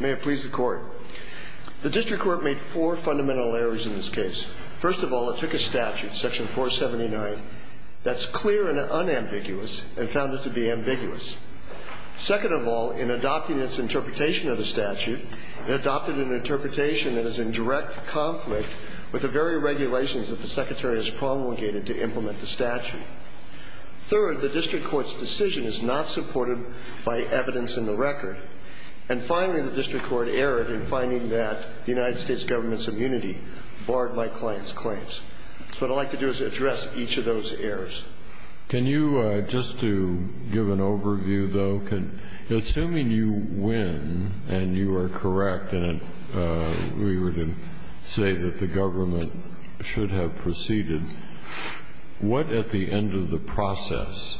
May it please the Court. The District Court made four fundamental errors in this case. First of all, it took a statute, section 479, that's clear and unambiguous and found it to be ambiguous. Second of all, in adopting its interpretation of the statute, it adopted an interpretation that is in direct conflict with the very regulations that the Secretary has promulgated to implement the statute. Third, the District Court's decision is not supported by evidence in the record. And finally, the District Court erred in finding that the United States government's immunity barred my client's claims. So what I'd like to do is address each of those errors. Can you, just to give an overview, though, assuming you win and you are correct and we were to say that the government should have proceeded, what, at the end of the process,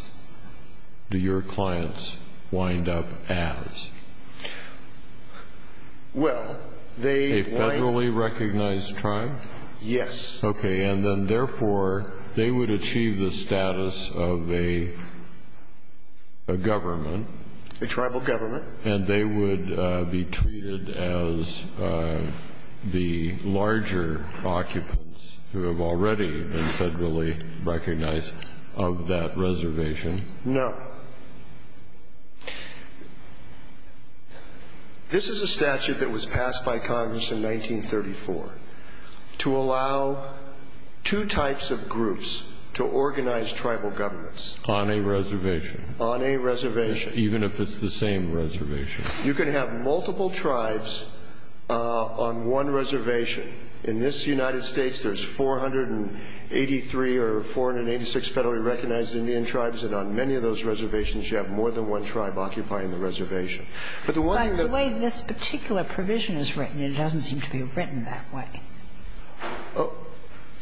do your clients wind up as? Well, they wind up as a federally recognized tribe? Yes. Okay. And then, therefore, they would achieve the status of a government. A tribal government. And they would be treated as the larger occupants who have already been federally recognized of that reservation? No. This is a statute that was passed by Congress in 1934 to allow two types of groups to organize tribal governments. On a reservation. Even if it's the same reservation. You can have multiple tribes on one reservation. In this United States, there's 483 or 486 federally recognized Indian tribes. And on many of those reservations, you have more than one tribe occupying the reservation. But the one thing that the way this particular provision is written, it doesn't seem to be written that way.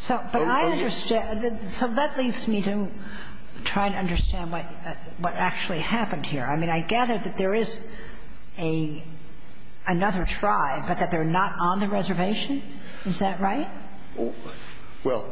So, but I understand. So that leads me to try and understand what actually happened here. I mean, I gather that there is another tribe, but that they're not on the reservation. Is that right? Well,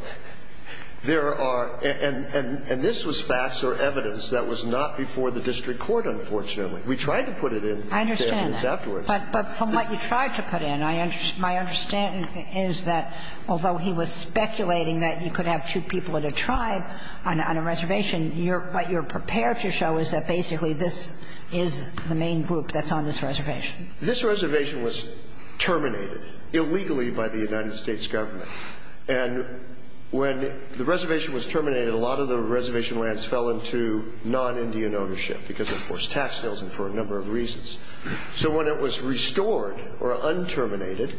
there are. And this was facts or evidence that was not before the district court, unfortunately. We tried to put it in. I understand that. But from what you tried to put in, my understanding is that, although he was speculating that you could have two people in a tribe on a reservation, what you're prepared to show is that basically this is the main group that's on this reservation. This reservation was terminated illegally by the United States government. And when the reservation was terminated, a lot of the reservation lands fell into non-Indian ownership because of forced tax sales and for a number of reasons. So when it was restored or un-terminated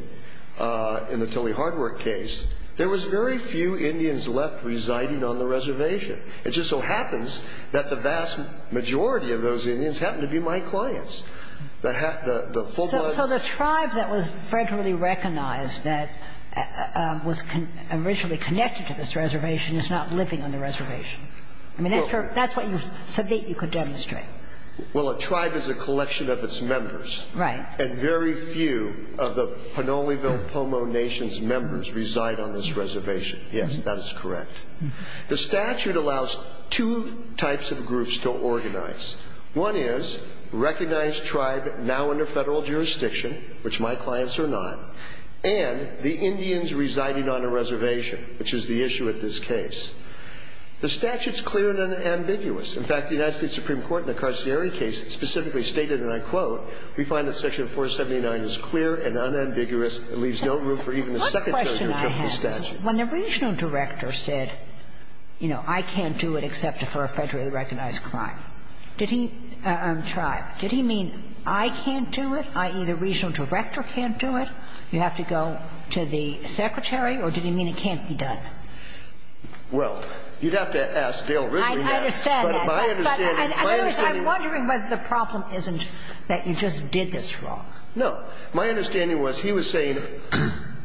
in the Tully Hardwork case, there was very few Indians left residing on the reservation. It just so happens that the vast majority of those Indians happened to be my clients. The full-blown ---- So the tribe that was federally recognized that was originally connected to this reservation is not living on the reservation. I mean, that's what you said that you could demonstrate. Well, a tribe is a collection of its members. Right. And very few of the Pinoleville-Pomo Nation's members reside on this reservation. Yes, that is correct. The statute allows two types of groups to organize. One is recognized tribe now under federal jurisdiction, which my clients are not, and the Indians residing on a reservation, which is the issue at this case. The statute's clear and ambiguous. In fact, the United States Supreme Court in the Carcieri case specifically stated, and I quote, We find that Section 479 is clear and unambiguous and leaves no room for even a secretary to adopt the statute. What question I have is when the regional director said, you know, I can't do it except for a federally recognized tribe, did he mean I can't do it, i.e., the regional director can't do it, you have to go to the secretary, or did he mean it can't be done? Well, you'd have to ask Dale Risley now. I understand that. I'm wondering whether the problem isn't that you just did this wrong. No. My understanding was he was saying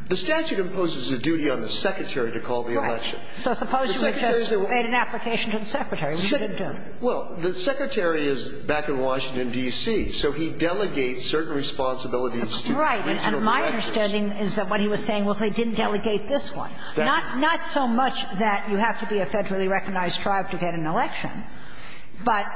the statute imposes a duty on the secretary to call the election. Right. So suppose you had just made an application to the secretary and you didn't do it. Well, the secretary is back in Washington, D.C., so he delegates certain responsibilities to regional directors. Right. And my understanding is that what he was saying was they didn't delegate this one. Not so much that you have to be a federally recognized tribe to get an election, but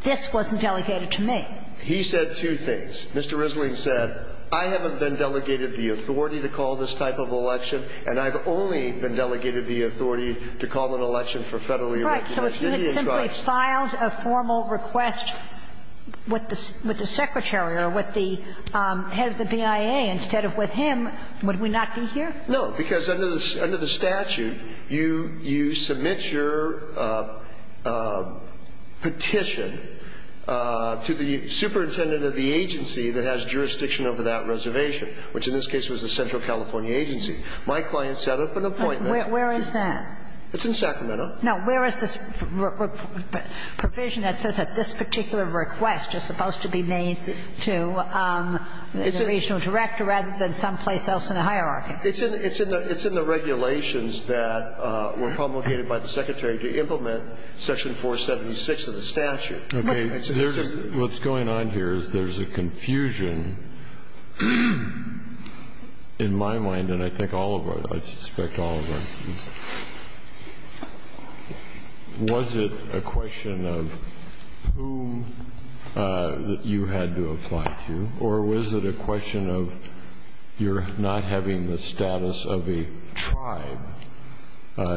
this wasn't delegated to me. He said two things. Mr. Risley said, I haven't been delegated the authority to call this type of election, and I've only been delegated the authority to call an election for federally recognized Indian tribes. Right. So if you had simply filed a formal request with the secretary or with the head of the BIA instead of with him, would we not be here? No, because under the statute, you submit your petition to the superintendent of the agency that has jurisdiction over that reservation, which in this case was the Central California Agency. My client set up an appointment. Where is that? It's in Sacramento. Now, where is this provision that says that this particular request is supposed to be made to the regional director rather than someplace else in the hierarchy? It's in the regulations that were promulgated by the secretary to implement Section 476 of the statute. Okay. What's going on here is there's a confusion in my mind, and I think all of our, I suspect all of our students. Was it a question of whom that you had to apply to, or was it a question of you're not having the status of a tribe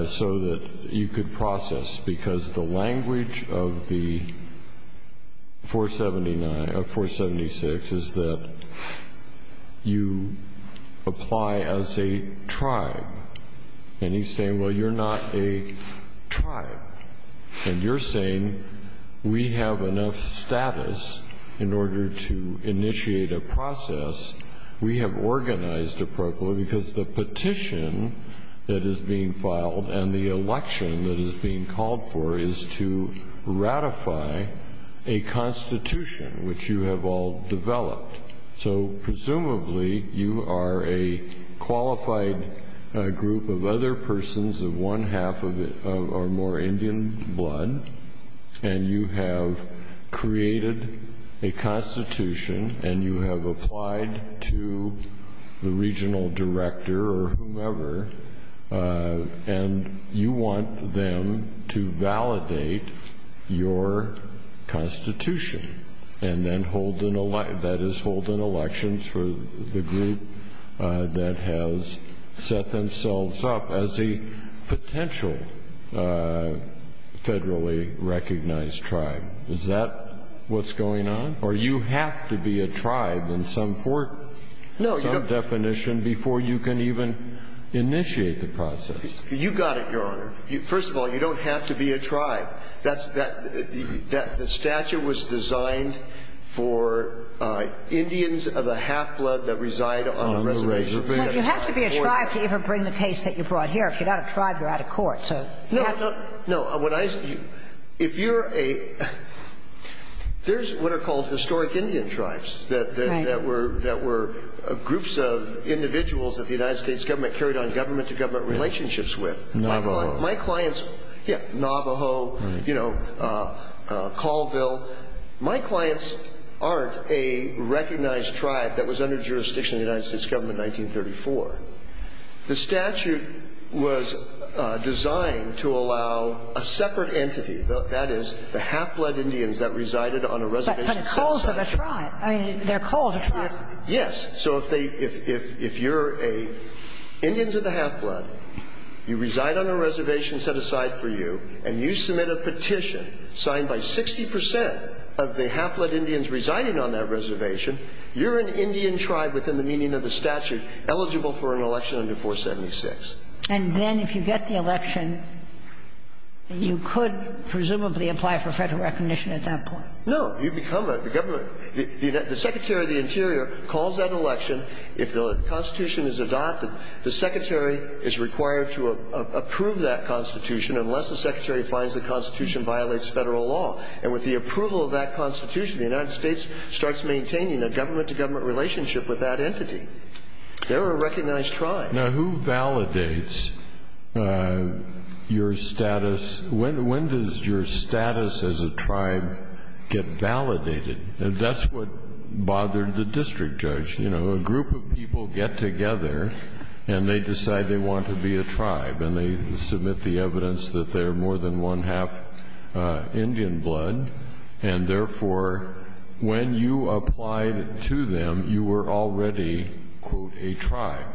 so that you could process? Because the language of 476 is that you apply as a tribe. And he's saying, well, you're not a tribe. And you're saying we have enough status in order to initiate a process. We have organized appropriately because the petition that is being filed and the election that is being called for is to ratify a constitution, which you have all developed. So presumably you are a qualified group of other persons of one-half or more Indian blood, and you have created a constitution, and you have applied to the regional director or whomever, and you want them to validate your constitution and then hold an election, that is, hold an election. Is that what's going on? Or you have to be a tribe in some definition before you can even initiate the process? You got it, Your Honor. First of all, you don't have to be a tribe. The statute was designed for Indians of a half-blood that reside on a reservation. But you have to be a tribe to even bring the case that you brought here. If you're not a tribe, you're out of court. No, no. If you're a – there's what are called historic Indian tribes that were groups of individuals that the United States government carried on government-to-government relationships with. Navajo. Yeah, Navajo, Colville. My clients aren't a recognized tribe that was under jurisdiction of the United States government in 1934. The statute was designed to allow a separate entity, that is, the half-blood Indians that resided on a reservation set aside for you. But they're called a tribe. Yes. So if you're a Indians of the half-blood, you reside on a reservation set aside for you, and you submit a petition signed by 60 percent of the half-blood Indians residing on that reservation, you're an Indian tribe within the meaning of the statute eligible for an election under 476. And then if you get the election, you could presumably apply for Federal recognition at that point. No. You become a government – the Secretary of the Interior calls that election. If the Constitution is adopted, the Secretary is required to approve that Constitution unless the Secretary finds the Constitution violates Federal law. And with the approval of that Constitution, the United States starts maintaining a government-to-government relationship with that entity. They're a recognized tribe. Now, who validates your status? When does your status as a tribe get validated? That's what bothered the district judge. You know, a group of people get together, and they decide they want to be a tribe. And they submit the evidence that they're more than one-half Indian blood. And therefore, when you applied to them, you were already, quote, a tribe.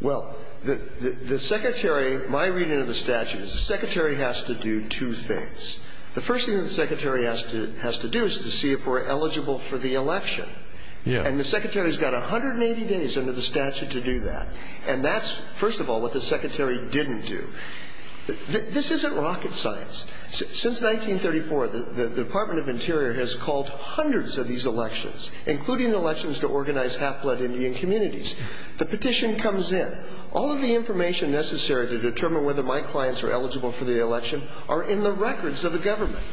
Well, the Secretary – my reading of the statute is the Secretary has to do two things. The first thing that the Secretary has to do is to see if we're eligible for the election. Yeah. And the Secretary's got 180 days under the statute to do that. And that's, first of all, what the Secretary didn't do. This isn't rocket science. Since 1934, the Department of Interior has called hundreds of these elections, including elections to organize half-blood Indian communities. The petition comes in. All of the information necessary to determine whether my clients are eligible for the election are in the records of the government.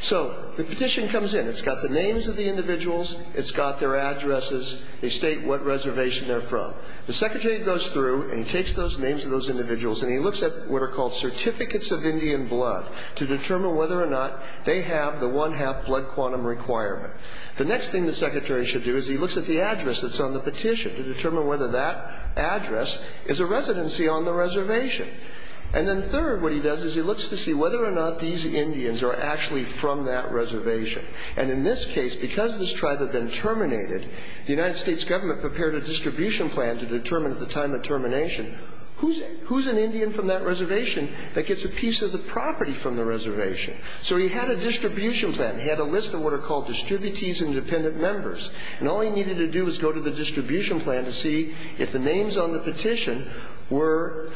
So the petition comes in. It's got the names of the individuals. It's got their addresses. They state what reservation they're from. The Secretary goes through and he takes those names of those individuals and he looks at what are called certificates of Indian blood to determine whether or not they have the one-half blood quantum requirement. The next thing the Secretary should do is he looks at the address that's on the petition to determine whether that address is a residency on the reservation. And then third, what he does is he looks to see whether or not these Indians are actually from that reservation. And in this case, because this tribe had been terminated, the United States government prepared a distribution plan to determine at the time of termination who's an Indian from that reservation that gets a piece of the property from the reservation. So he had a distribution plan. He had a list of what are called distributees and dependent members. And all he needed to do was go to the distribution plan to see if the names on the petition were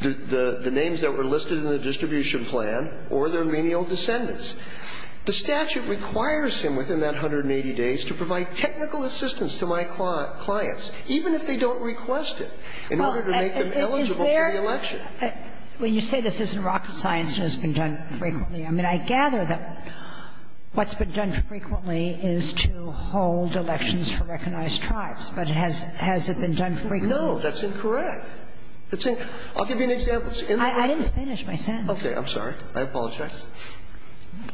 the names that were listed in the distribution plan or their menial descendants. Now, in this case, the statute requires him within that 180 days to provide technical assistance to my clients, even if they don't request it, in order to make them eligible for the election. When you say this isn't rocket science and it's been done frequently, I mean, I gather that what's been done frequently is to hold elections for recognized tribes. But has it been done frequently? No. That's incorrect. I'll give you an example. I didn't finish my sentence. I'm sorry. I apologize.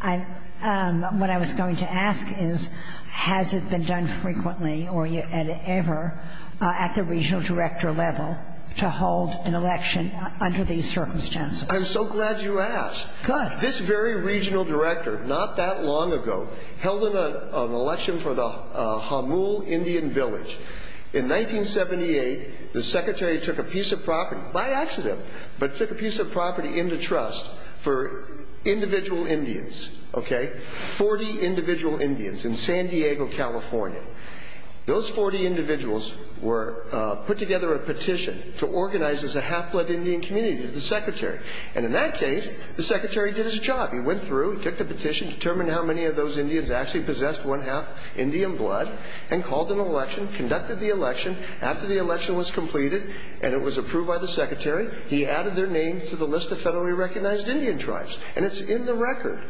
What I was going to ask is, has it been done frequently or ever at the regional director level to hold an election under these circumstances? I'm so glad you asked. Good. This very regional director, not that long ago, held an election for the Hamul Indian Village. In 1978, the Secretary took a piece of property, by accident, but took a piece of property into trust for individual Indians, okay? Forty individual Indians in San Diego, California. Those 40 individuals put together a petition to organize as a half-blood Indian community with the Secretary. And in that case, the Secretary did his job. He went through, he took the petition, determined how many of those Indians actually possessed one half Indian blood, and called an election, conducted the election. After the election was completed and it was approved by the Secretary, he added their name to the list of federally recognized Indian tribes. And it's in the record.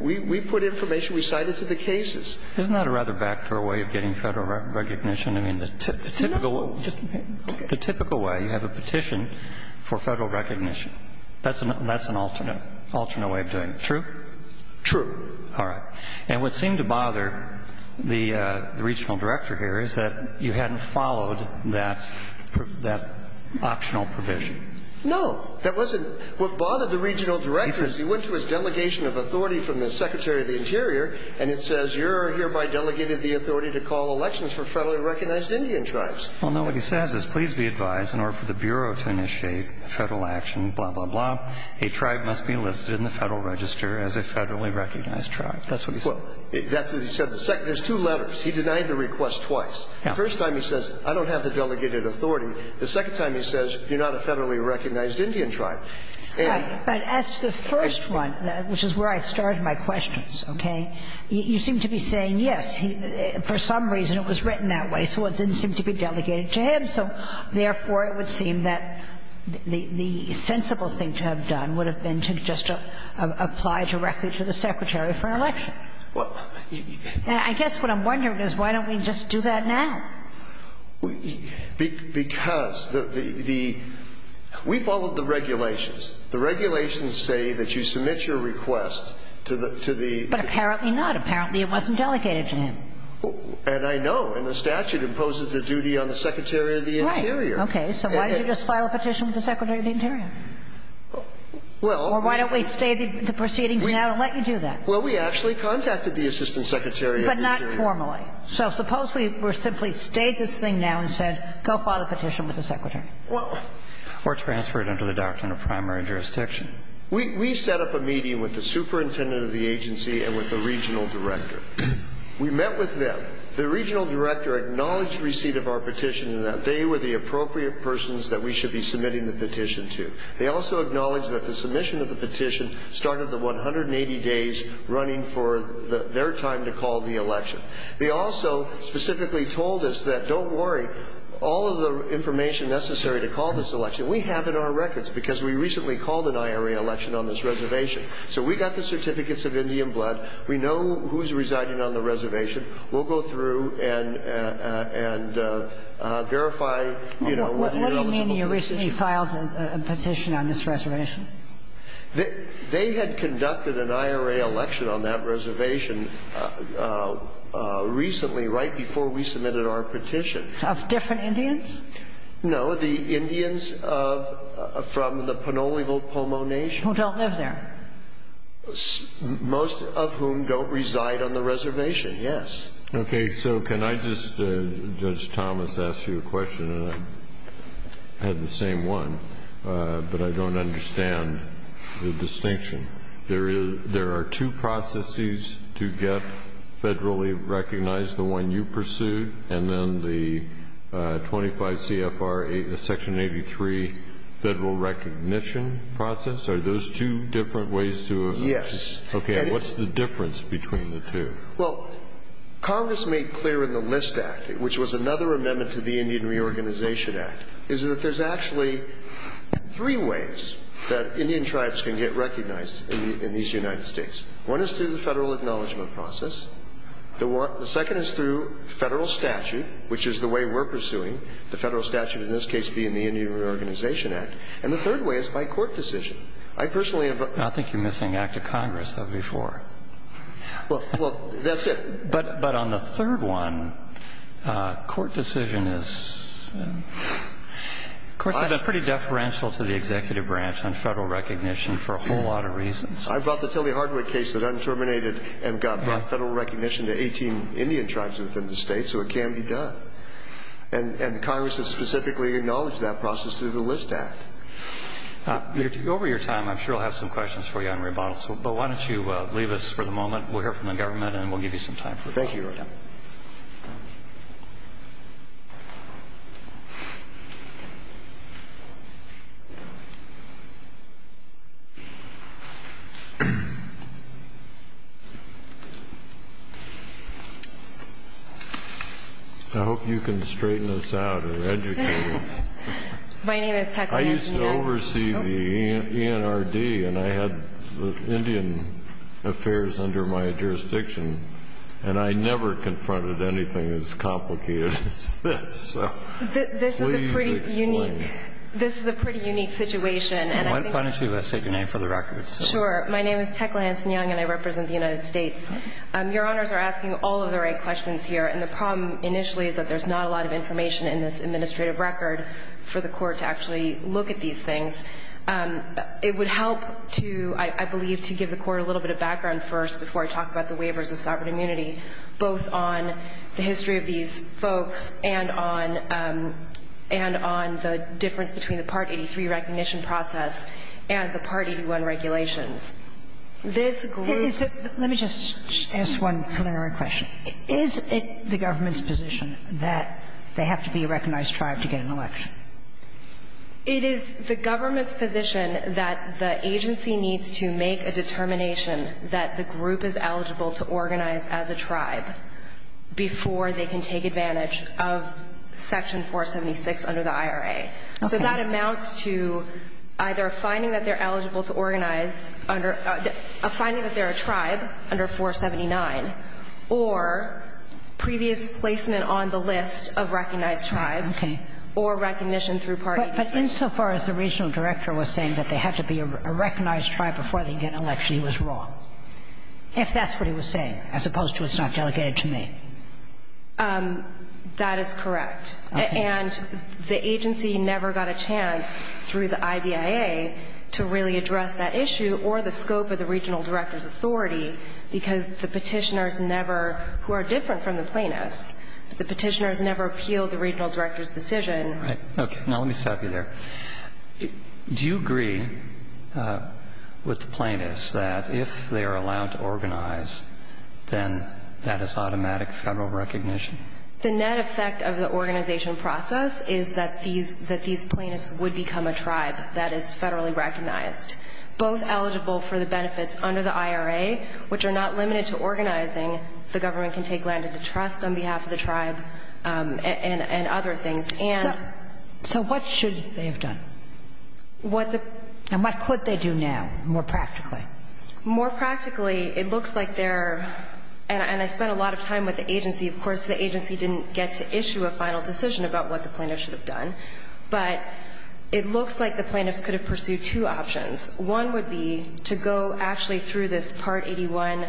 We put information, we cited to the cases. Isn't that a rather backdoor way of getting federal recognition? I mean, the typical way you have a petition for federal recognition, that's an alternate way of doing it. True? True. All right. And what seemed to bother the regional director here is that you hadn't followed that optional provision. No. That wasn't what bothered the regional director. He went to his delegation of authority from the Secretary of the Interior, and it says, you're hereby delegated the authority to call elections for federally recognized Indian tribes. Well, no, what he says is, please be advised, in order for the Bureau to initiate federal action, blah, blah, blah, a tribe must be listed in the Federal Register as a federally recognized tribe. That's what he said. That's what he said. There's two letters. He denied the request twice. The first time he says, I don't have the delegated authority. The second time he says, you're not a federally recognized Indian tribe. Right. But as to the first one, which is where I started my questions, okay, you seem to be saying, yes, for some reason it was written that way, so it didn't seem to be delegated to him. So, therefore, it would seem that the sensible thing to have done would have been to just apply directly to the Secretary for an election. And I guess what I'm wondering is, why don't we just do that now? Because the – we followed the regulations. The regulations say that you submit your request to the – to the – But apparently not. Apparently it wasn't delegated to him. And I know. And the statute imposes a duty on the Secretary of the Interior. Right. Okay. So why don't you just file a petition with the Secretary of the Interior? Well – Or why don't we stay the proceedings now and let you do that? Well, we actually contacted the Assistant Secretary of the Interior. But not formally. So suppose we simply stayed this thing now and said, go file the petition with the Secretary? Well – Or transfer it under the doctrine of primary jurisdiction. We set up a meeting with the superintendent of the agency and with the regional director. We met with them. The regional director acknowledged receipt of our petition and that they were the appropriate persons that we should be submitting the petition to. They also acknowledged that the submission of the petition started the 180 days running for their time to call the election. They also specifically told us that, don't worry, all of the information necessary to call this election we have in our records because we recently called an IRA election on this reservation. So we got the certificates of Indian blood. We know who's residing on the reservation. We'll go through and verify, you know, whether you're eligible for the petition. What do you mean you recently filed a petition on this reservation? They had conducted an IRA election on that reservation recently right before we submitted our petition. Of different Indians? No, the Indians from the Pinoleville Pomo Nation. Who don't live there? Most of whom don't reside on the reservation, yes. Okay. So can I just, Judge Thomas, ask you a question? I had the same one, but I don't understand the distinction. There are two processes to get federally recognized, the one you pursued, and then the 25 CFR 8, Section 83 Federal Recognition process? Are those two different ways to? Yes. Okay. And what's the difference between the two? Well, Congress made clear in the List Act, which was another amendment to the Indian Reorganization Act, is that there's actually three ways that Indian tribes can get recognized in these United States. One is through the federal acknowledgment process. The second is through federal statute, which is the way we're pursuing, the federal statute in this case being the Indian Reorganization Act. And the third way is by court decision. I personally have. I think you're missing Act of Congress, though, before. Well, that's it. But on the third one, court decision is, courts have been pretty deferential to the executive branch on federal recognition for a whole lot of reasons. I brought the Tilly Hardwick case that undeterminated and got federal recognition to 18 Indian tribes within the state, so it can be done. And Congress has specifically acknowledged that process through the List Act. Over your time, I'm sure I'll have some questions for you on rebuttal, but why don't you leave us for the moment. We'll hear from the government and we'll give you some time for rebuttal. Thank you, Your Honor. I hope you can straighten us out or educate us. My name is Teckley. I used to oversee the ENRD. And I had Indian affairs under my jurisdiction. And I never confronted anything as complicated as this. So please explain. This is a pretty unique situation. Why don't you state your name for the record. Sure. My name is Teckley Hanson-Young, and I represent the United States. Your Honors are asking all of the right questions here. And the problem initially is that there's not a lot of information in this administrative record for the Court to actually look at these things. It would help to, I believe, to give the Court a little bit of background first before I talk about the waivers of sovereign immunity, both on the history of these folks and on the difference between the Part 83 recognition process and the Part 81 regulations. This group of people. Let me just ask one preliminary question. Is it the government's position that they have to be a recognized tribe to get an election? It is the government's position that the agency needs to make a determination that the group is eligible to organize as a tribe before they can take advantage of Section 476 under the IRA. Okay. So that amounts to either finding that they're eligible to organize under — finding that they're a tribe under 479, or previous placement on the list of recognized tribes, or recognition through Part 83. But insofar as the regional director was saying that they have to be a recognized tribe before they can get an election, he was wrong. If that's what he was saying, as opposed to it's not delegated to me. That is correct. And the agency never got a chance through the IBIA to really address that issue or the scope of the regional director's authority because the Petitioners never who are different from the plaintiffs. The Petitioners never appealed the regional director's decision. Right. Okay. Now let me stop you there. Do you agree with the plaintiffs that if they are allowed to organize, then that is automatic Federal recognition? The net effect of the organization process is that these — that these plaintiffs would become a tribe that is Federally recognized, both eligible for the benefits under the IRA, which are not limited to organizing. The government can take land into trust on behalf of the tribe and other things. And — So what should they have done? What the — And what could they do now, more practically? More practically, it looks like they're — and I spent a lot of time with the agency. Of course, the agency didn't get to issue a final decision about what the plaintiffs should have done. But it looks like the plaintiffs could have pursued two options. One would be to go actually through this Part 81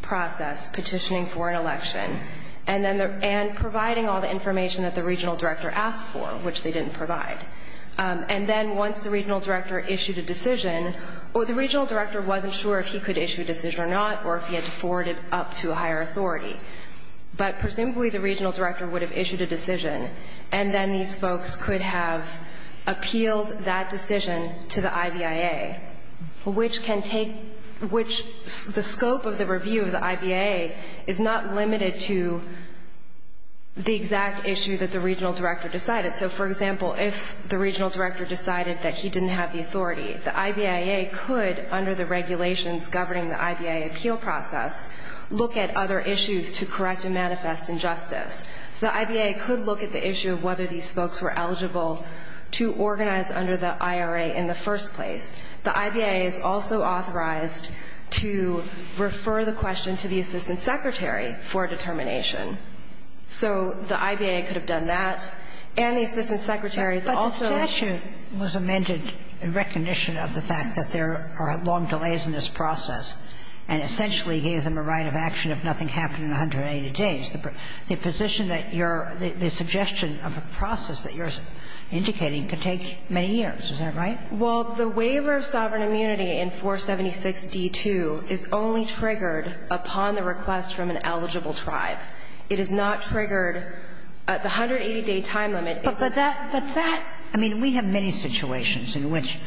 process, petitioning for an election, and then the — and providing all the information that the regional director asked for, which they didn't provide. And then once the regional director issued a decision — or the regional director wasn't sure if he could issue a decision or not or if he had to forward it up to a higher authority. But presumably the regional director would have issued a decision, and then these which can take — which — the scope of the review of the IBA is not limited to the exact issue that the regional director decided. So, for example, if the regional director decided that he didn't have the authority, the IBAA could, under the regulations governing the IBAA appeal process, look at other issues to correct and manifest injustice. So the IBAA could look at the issue of whether these folks were eligible to organize under the IRA in the first place. The IBAA is also authorized to refer the question to the assistant secretary for determination. So the IBAA could have done that. And the assistant secretary is also — But the statute was amended in recognition of the fact that there are long delays in this process, and essentially gave them a right of action if nothing happened in 180 days. The position that you're — the suggestion of a process that you're indicating could take many years. Is that right? Well, the waiver of sovereign immunity in 476d2 is only triggered upon the request from an eligible tribe. It is not triggered at the 180-day time limit. But that — but that — I mean, we have many situations in which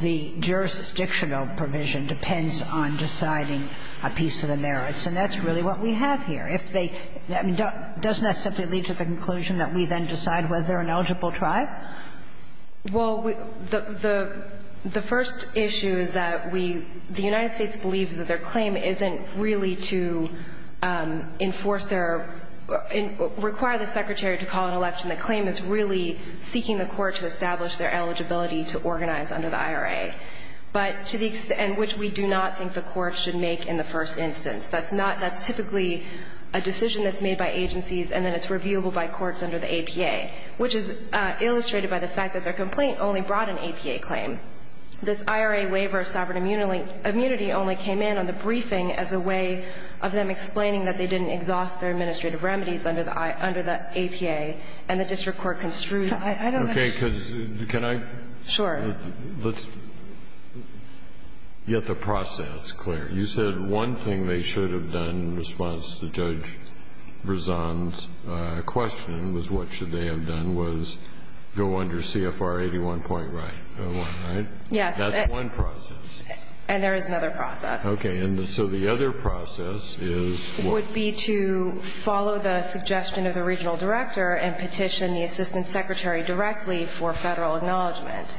the jurisdictional provision depends on deciding a piece of the merits, and that's really what we have here. If they — I mean, doesn't that simply lead to the conclusion that we then decide whether they're an eligible tribe? Well, the first issue is that we — the United States believes that their claim isn't really to enforce their — require the secretary to call an election. The claim is really seeking the court to establish their eligibility to organize under the IRA, but to the extent which we do not think the court should make in the first instance. That's not — that's typically a decision that's made by agencies, and then it's reviewable by courts under the APA, which is illustrated by the fact that their complaint only brought an APA claim. This IRA waiver of sovereign immunity only came in on the briefing as a way of them explaining that they didn't exhaust their administrative remedies under the — under the APA, and the district court construed — I don't think — Okay. Because can I — Sure. Let's get the process clear. You said one thing they should have done in response to Judge Verzon's question was what should they have done was go under CFR 81.01, right? Yes. That's one process. And there is another process. Okay. And so the other process is what? Would be to follow the suggestion of the regional director and petition the assistant secretary directly for Federal acknowledgment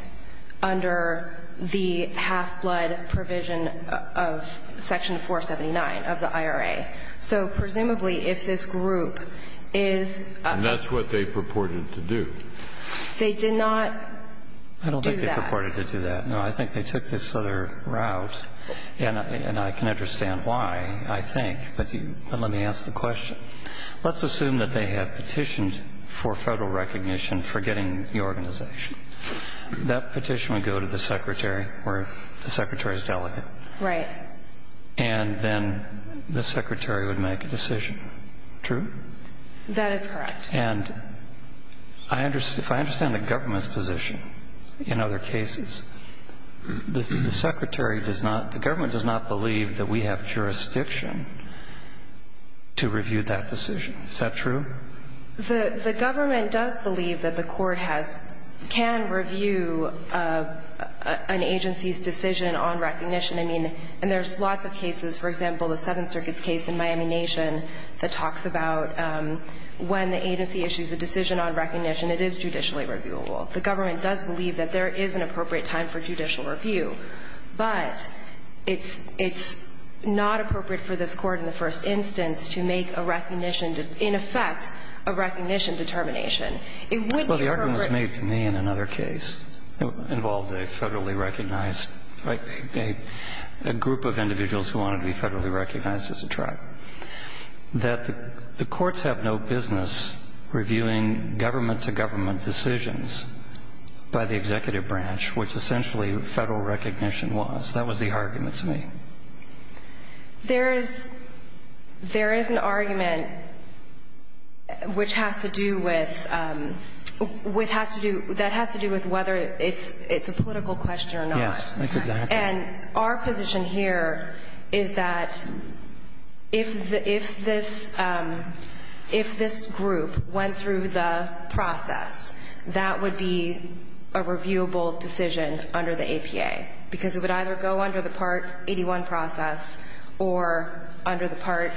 under the half-blood provision of section 479 of the IRA. So presumably if this group is — And that's what they purported to do. They did not do that. I don't think they purported to do that. No, I think they took this other route, and I can understand why, I think. But you — but let me ask the question. Let's assume that they have petitioned for Federal recognition for getting the organization. That petition would go to the secretary or the secretary's delegate. Right. And then the secretary would make a decision. True? That is correct. And if I understand the government's position in other cases, the secretary does not — to review that decision. Is that true? The government does believe that the court has — can review an agency's decision on recognition. I mean, and there's lots of cases. For example, the Seventh Circuit's case in Miami Nation that talks about when the agency issues a decision on recognition, it is judicially reviewable. The government does believe that there is an appropriate time for judicial review. But it's not appropriate for this Court in the first instance to make a recognition — in effect, a recognition determination. It wouldn't be appropriate. Well, the argument was made to me in another case. It involved a federally recognized — a group of individuals who wanted to be federally recognized as a tribe. That the courts have no business reviewing government-to-government decisions by the executive branch, which essentially federal recognition was. That was the argument to me. There is — there is an argument which has to do with — which has to do — that has to do with whether it's a political question or not. Yes, that's exactly right. And our position here is that if this — if this group went through the process, that would be a reviewable decision under the APA, because it would either go under the Part 81 process or under the part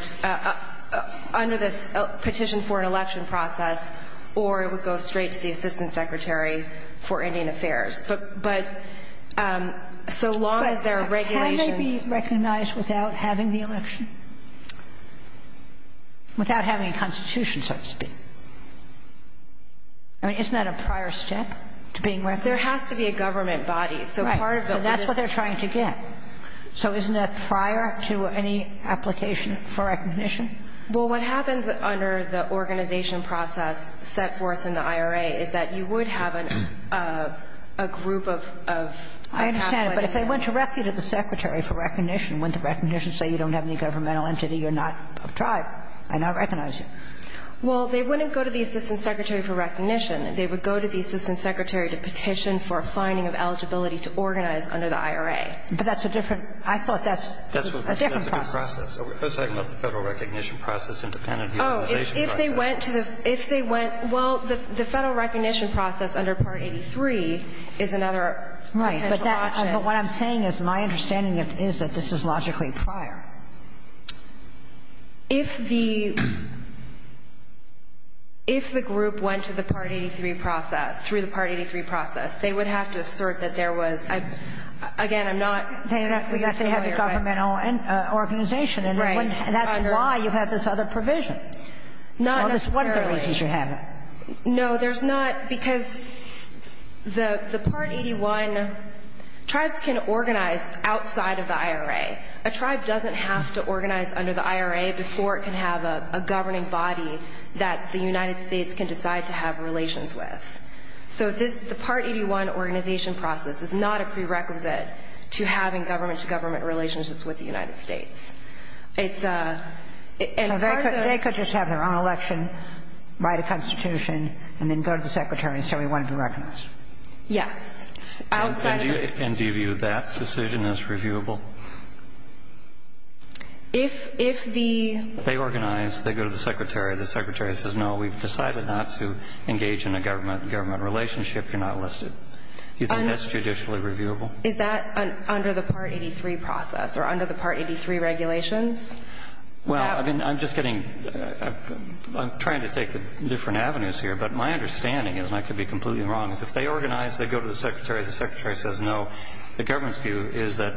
— under this petition for an election process, or it would go straight to the Assistant Secretary for Indian Affairs. But so long as there are regulations — But can it be recognized without having the election? Without having a constitution, so to speak. I mean, isn't that a prior step to being recognized? There has to be a government body. Right. So part of the — So that's what they're trying to get. So isn't that prior to any application for recognition? Well, what happens under the organization process set forth in the IRA is that you would have a group of — of — I understand. But if they went directly to the Secretary for recognition, went to recognition and said you don't have any governmental entity, you're not a tribe, I now recognize Well, they wouldn't go to the Assistant Secretary for recognition. They would go to the Assistant Secretary to petition for a finding of eligibility to organize under the IRA. But that's a different — I thought that's a different process. That's a different process. We're talking about the Federal recognition process independent of the organization process. Oh, if they went to the — if they went — well, the Federal recognition process under Part 83 is another potential option. Right. But what I'm saying is my understanding is that this is logically prior. If the — if the group went to the Part 83 process, through the Part 83 process, they would have to assert that there was — again, I'm not — They have a governmental organization. Right. And that's why you have this other provision. Not necessarily. What are the reasons you have it? No, there's not — because the Part 81 tribes can organize outside of the IRA. A tribe doesn't have to organize under the IRA before it can have a governing body that the United States can decide to have relations with. So this — the Part 81 organization process is not a prerequisite to having government-to-government relationships with the United States. It's a — So they could just have their own election, write a constitution, and then go to the Secretary and say we want to be recognized. Yes. Outside of the — And do you view that decision as reviewable? If — if the — They organize. They go to the Secretary. The Secretary says, no, we've decided not to engage in a government-to-government relationship. You're not listed. Do you think that's judicially reviewable? Is that under the Part 83 process or under the Part 83 regulations? Well, I mean, I'm just getting — I'm trying to take the different avenues here, but my understanding is, and I could be completely wrong, is if they organize, they go to the Secretary. The Secretary says, no. The government's view is that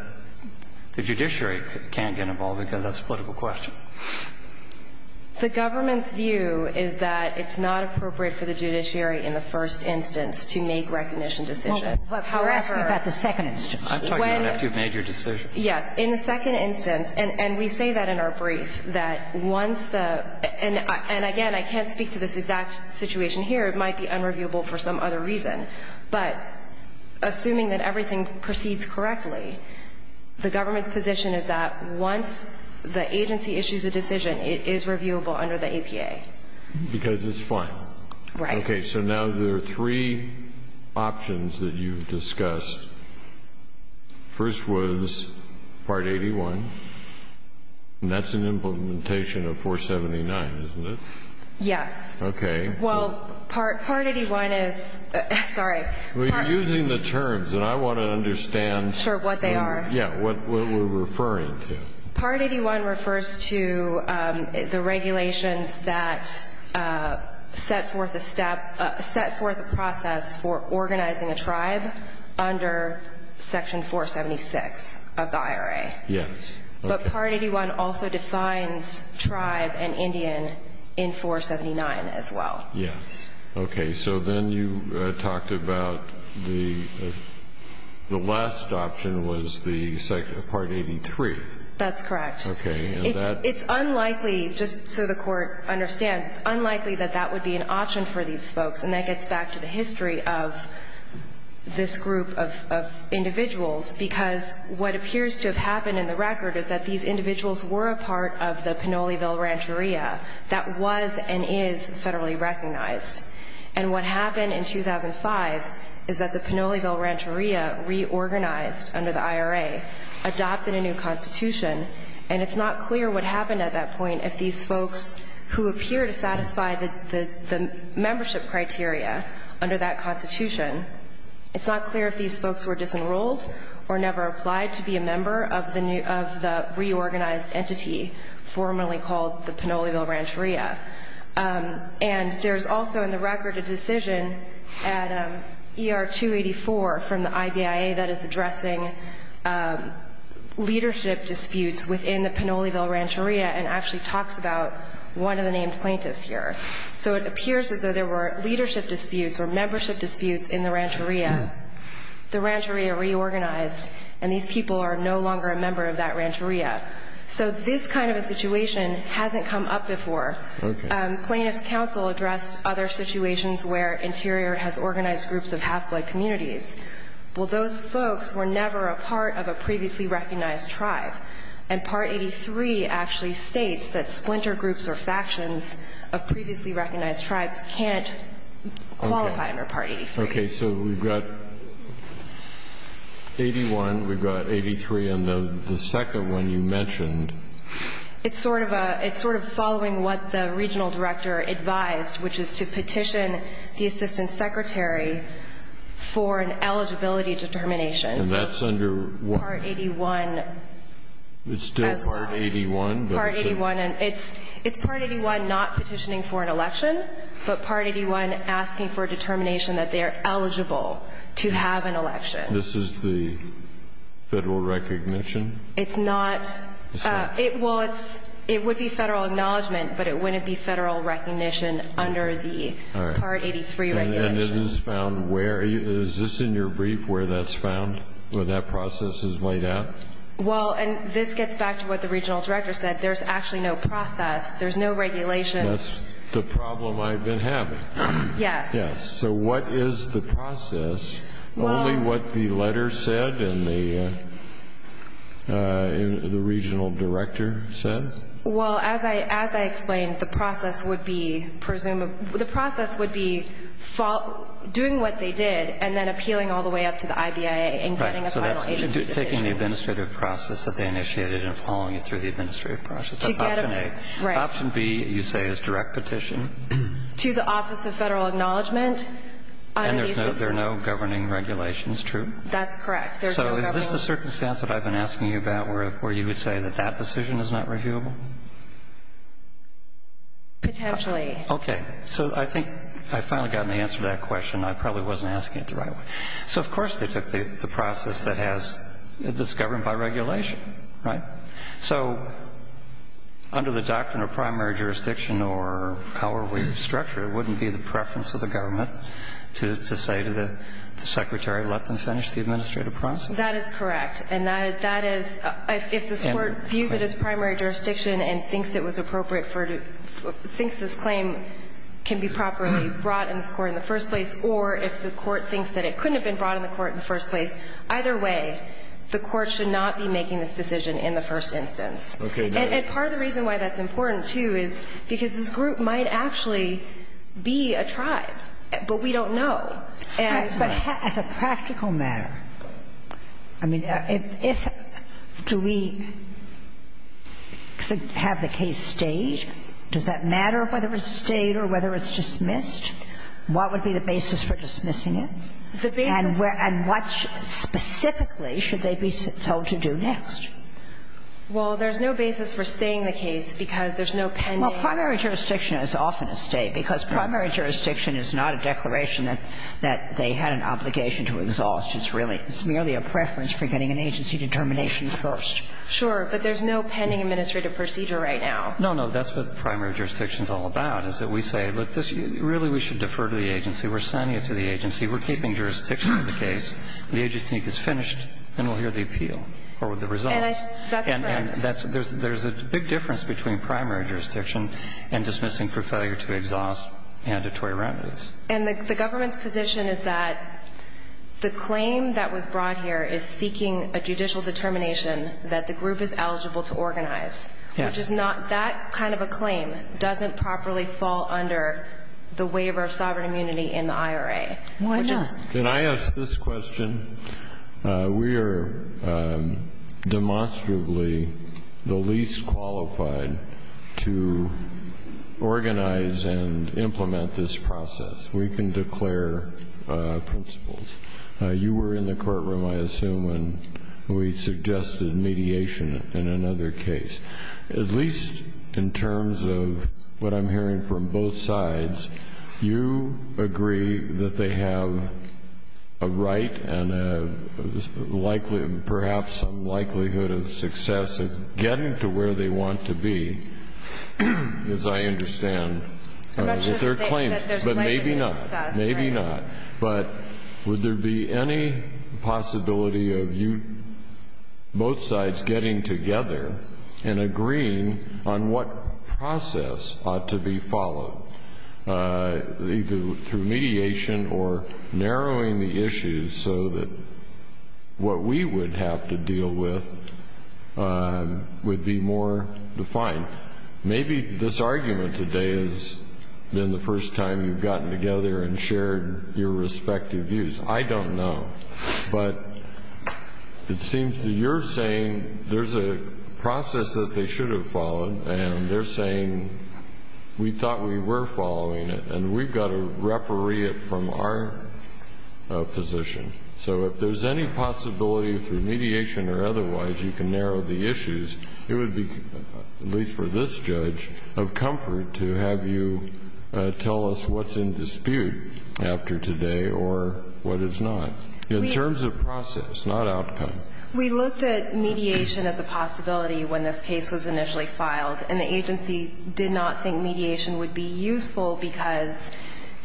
the judiciary can't get involved because that's a political question. The government's view is that it's not appropriate for the judiciary in the first instance to make recognition decisions. However — You're asking about the second instance. I'm talking about after you've made your decision. Yes. In the second instance — and we say that in our brief, that once the — and again, I can't speak to this exact situation here. It might be unreviewable for some other reason. But assuming that everything proceeds correctly, the government's position is that once the agency issues a decision, it is reviewable under the APA. Because it's fine. Right. Okay. So now there are three options that you've discussed. First was Part 81, and that's an implementation of 479, isn't it? Yes. Okay. Well, Part 81 is — sorry. You're using the terms, and I want to understand — Sure, what they are. Yeah, what we're referring to. Part 81 refers to the regulations that set forth a step — set forth a process for organizing a tribe under Section 476 of the IRA. Yes. But Part 81 also defines tribe and Indian in 479 as well. Yes. Okay. So then you talked about the — the last option was the Part 83. That's correct. Okay. And that — It's unlikely — just so the Court understands, it's unlikely that that would be an option for these folks. And that gets back to the history of this group of individuals, because what appears to have happened in the record is that these individuals were a part of the Pinoleville Rancheria that was and is federally recognized. And what happened in 2005 is that the Pinoleville Rancheria reorganized under the IRA, adopted a new constitution, and it's not clear what happened at that point if these folks who appear to satisfy the membership criteria under that constitution — it's not clear if these folks were disenrolled or never applied to be a member of the — of the reorganized entity formerly called the Pinoleville Rancheria. And there's also in the record a decision at ER 284 from the IVIA that is addressing leadership disputes within the Pinoleville Rancheria and actually talks about one of the named plaintiffs here. So it appears as though there were leadership disputes or membership disputes in the Rancheria. The Rancheria reorganized, and these people are no longer a member of that Rancheria. So this kind of a situation hasn't come up before. Plaintiffs' counsel addressed other situations where Interior has organized groups of half-blood communities. Well, those folks were never a part of a previously recognized tribe. And Part 83 actually states that splinter groups or factions of previously recognized tribes can't qualify under Part 83. Okay. So we've got 81, we've got 83, and the second one you mentioned — It's sort of a — it's sort of following what the regional director advised, which is to petition the assistant secretary for an eligibility determination. And that's under — It's still Part 81. Part 81. It's Part 81 not petitioning for an election, but Part 81 asking for a determination that they're eligible to have an election. This is the federal recognition? It's not — It's not? Well, it would be federal acknowledgement, but it wouldn't be federal recognition under the Part 83 regulations. All right. And it is found where? Is this in your brief where that's found, where that process is laid out? Well, and this gets back to what the regional director said. There's actually no process. There's no regulations. That's the problem I've been having. Yes. Yes. So what is the process? Only what the letter said and the regional director said? Well, as I explained, the process would be doing what they did and then appealing all the way up to the IBIA and getting a final agency decision. Right. So that's taking the administrative process that they initiated and following it through the administrative process. That's option A. Right. Option B, you say, is direct petition. To the Office of Federal Acknowledgement. And there are no governing regulations, true? That's correct. So is this the circumstance that I've been asking you about where you would say that that decision is not reviewable? Potentially. Okay. So I think I finally got an answer to that question. I probably wasn't asking it the right way. So, of course, they took the process that's governed by regulation, right? So under the doctrine of primary jurisdiction or power structure, it wouldn't be the preference of the government to say to the secretary, let them finish the administrative process. That is correct. And that is, if this Court views it as primary jurisdiction and thinks it was appropriate for to – thinks this claim can be properly brought in this Court in the first place, or if the Court thinks that it couldn't have been brought in the Court in the first place, either way, the Court should not be making this decision in the first instance. Okay. And part of the reason why that's important, too, is because this group might actually be a tribe, but we don't know. But as a practical matter, I mean, if – do we have the case stayed? Does that matter whether it's stayed or whether it's dismissed? What would be the basis for dismissing it? The basis – And what specifically should they be told to do next? Well, there's no basis for staying the case, because there's no pending – Well, primary jurisdiction is often a stay, because primary jurisdiction is not a declaration that they had an obligation to exhaust. It's really – it's merely a preference for getting an agency determination first. Sure. But there's no pending administrative procedure right now. No, no. That's what primary jurisdiction is all about, is that we say, look, really, we should defer to the agency. We're sending it to the agency. We're keeping jurisdiction of the case. The agency gets finished, and we'll hear the appeal or the results. And I – that's correct. And there's a big difference between primary jurisdiction and dismissing for failure to exhaust mandatory remedies. And the government's position is that the claim that was brought here is seeking a judicial determination that the group is eligible to organize. Yes. Which is not – that kind of a claim doesn't properly fall under the waiver of sovereign immunity in the IRA. Why not? Can I ask this question? We are demonstrably the least qualified to organize and implement this process. We can declare principles. You were in the courtroom, I assume, when we suggested mediation in another case. At least in terms of what I'm hearing from both sides, you agree that they have a right and a likely – perhaps some likelihood of success of getting to where they want to be, as I understand, with their claims. But maybe not. Maybe not. But would there be any possibility of you – both sides getting together and agreeing on what process ought to be followed, either through mediation or narrowing the issues so that what we would have to deal with would be more defined? Maybe this argument today has been the first time you've gotten together and shared your respective views. I don't know. But it seems that you're saying there's a process that they should have followed, and they're saying, we thought we were following it, and we've got to referee it from our position. So if there's any possibility through mediation or otherwise you can narrow the issues, it would be, at least for this judge, of comfort to have you tell us what's in dispute after today or what is not, in terms of process, not outcome. We looked at mediation as a possibility when this case was initially filed. And the agency did not think mediation would be useful because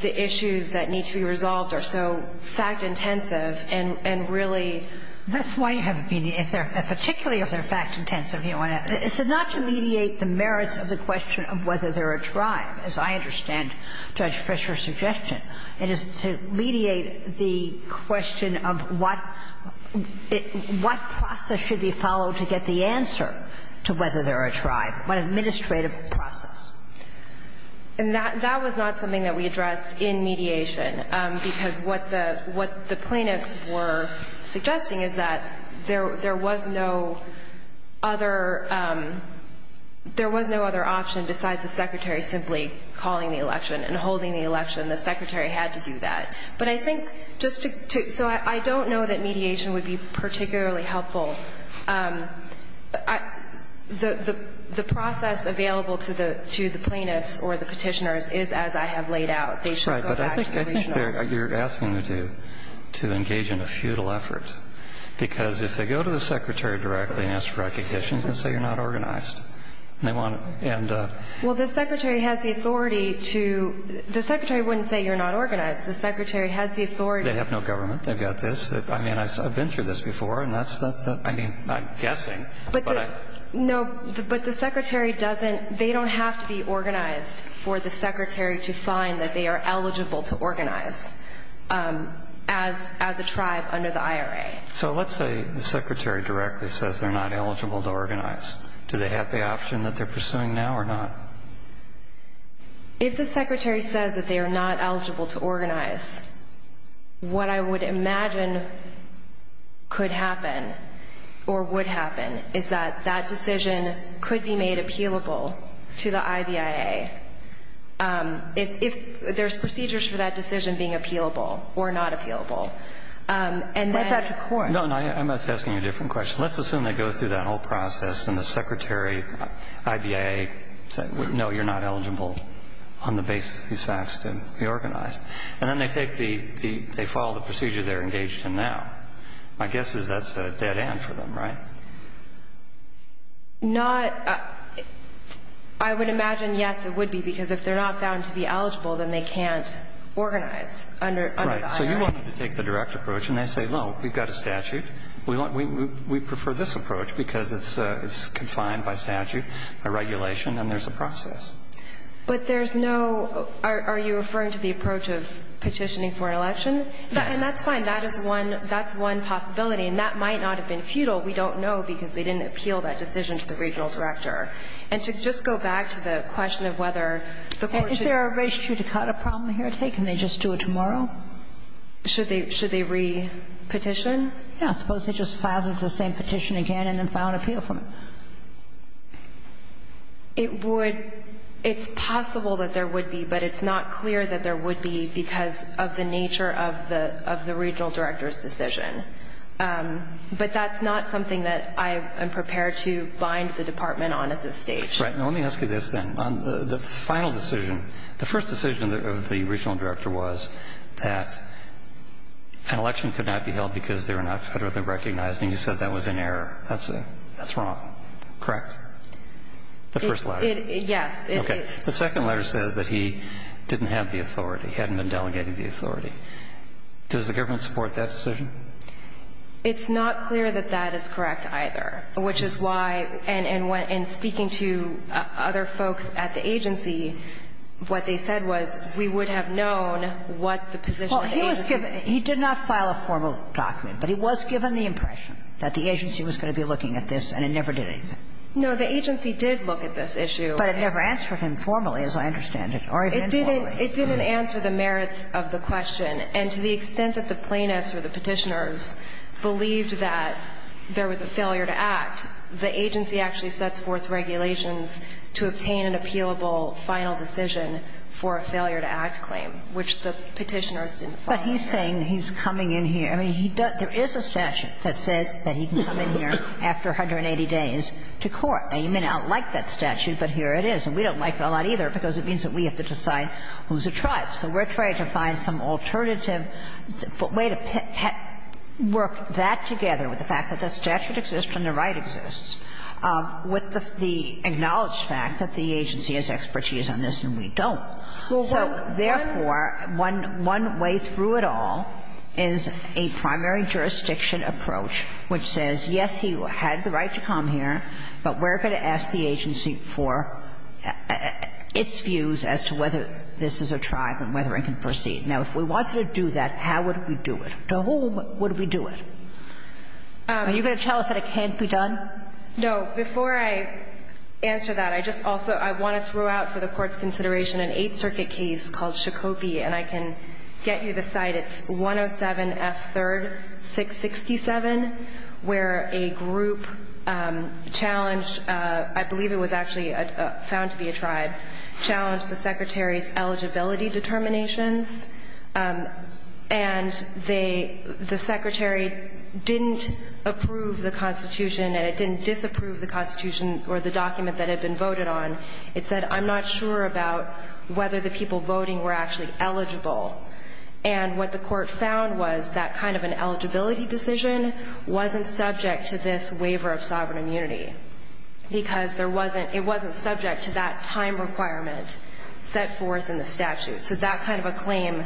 the issues that need to be resolved are so fact-intensive and really – That's why you haven't been – if they're – particularly if they're fact-intensive, you don't want to – it's not to mediate the merits of the question of whether they're a drive, as I understand Judge Fischer's suggestion. It is to mediate the question of what – what process should be followed to get the answer to whether they're a drive, what administrative process. And that – that was not something that we addressed in mediation, because what the – what the plaintiffs were suggesting is that there was no other – there was no other option besides the Secretary simply calling the election and holding the election. The Secretary had to do that. But I think just to – so I don't know that mediation would be particularly helpful. I – the process available to the – to the plaintiffs or the Petitioners is as I have laid out. They should go back to the regional – Right. But I think they're – you're asking them to engage in a futile effort, because if they go to the Secretary directly and ask for recognition, they can say you're not organized. And they want – and – Well, the Secretary has the authority to – the Secretary wouldn't say you're not organized. The Secretary has the authority – They have no government. They've got this. I mean, I've been through this before, and that's – that's – I mean, I'm guessing. But I – No, but the Secretary doesn't – they don't have to be organized for the Secretary to find that they are eligible to organize as – as a tribe under the IRA. So let's say the Secretary directly says they're not eligible to organize. Do they have the option that they're pursuing now or not? If the Secretary says that they are not eligible to organize, what I would imagine could happen or would happen is that that decision could be made appealable to the IVIA if – if there's procedures for that decision being appealable or not appealable. And then – Right back to court. No, no. I'm just asking you a different question. Let's assume they go through that whole process and the Secretary, IVIA, said, no, you're not eligible on the basis of these facts to be organized. And then they take the – they follow the procedure they're engaged in now. My guess is that's a dead end for them, right? Not – I would imagine, yes, it would be, because if they're not found to be eligible, then they can't organize under the IRA. Right. So you wanted to take the direct approach, and they say, no, we've got a statute. We prefer this approach because it's confined by statute, by regulation, and there's a process. But there's no – are you referring to the approach of petitioning for an election? Yes. And that's fine. That is one – that's one possibility. And that might not have been futile. We don't know because they didn't appeal that decision to the regional director. And to just go back to the question of whether the court should – Is there a res judicata problem here? Can they just do it tomorrow? Should they – should they re-petition? Yeah, I suppose they just filed the same petition again and then file an appeal from it. It would – it's possible that there would be, but it's not clear that there would be because of the nature of the – of the regional director's decision. But that's not something that I am prepared to bind the Department on at this stage. Right. Now, let me ask you this, then. On the final decision, the first decision of the regional director was that an election could not be held because they were not federally recognized, and you said that was in error. That's – that's wrong. Correct? The first letter. It – yes. Okay. The second letter says that he didn't have the authority, hadn't been delegating the authority. Does the government support that decision? It's not clear that that is correct either, which is why – and when – and speaking to other folks at the agency, what they said was we would have known what the position of the agency was. Well, he was given – he did not file a formal document, but he was given the impression that the agency was going to be looking at this, and it never did anything. No, the agency did look at this issue. But it never answered him formally, as I understand it, or even formally. It didn't – it didn't answer the merits of the question. And to the extent that the plaintiffs or the Petitioners believed that there was a failure to act, the agency actually sets forth regulations to obtain an appealable final decision for a failure to act claim, which the Petitioners didn't file. But he's saying he's coming in here. I mean, he does – there is a statute that says that he can come in here after 180 days to court. Now, you may not like that statute, but here it is. And we don't like it a lot either because it means that we have to decide who's a tribe. So we're trying to find some alternative way to work that together with the fact that that statute exists and the right exists, with the acknowledged fact that the So therefore, one – one way through it all is a primary jurisdiction approach which says, yes, he had the right to come here, but we're going to ask the agency for its views as to whether this is a tribe and whether it can proceed. Now, if we wanted to do that, how would we do it? To whom would we do it? Are you going to tell us that it can't be done? No. So before I answer that, I just also – I want to throw out for the Court's consideration an Eighth Circuit case called Shakopee, and I can get you the site. It's 107F3-667, where a group challenged – I believe it was actually found to be a tribe – challenged the Secretary's eligibility determinations, and they – the document that had been voted on, it said, I'm not sure about whether the people voting were actually eligible. And what the Court found was that kind of an eligibility decision wasn't subject to this waiver of sovereign immunity, because there wasn't – it wasn't subject to that time requirement set forth in the statute. So that kind of a claim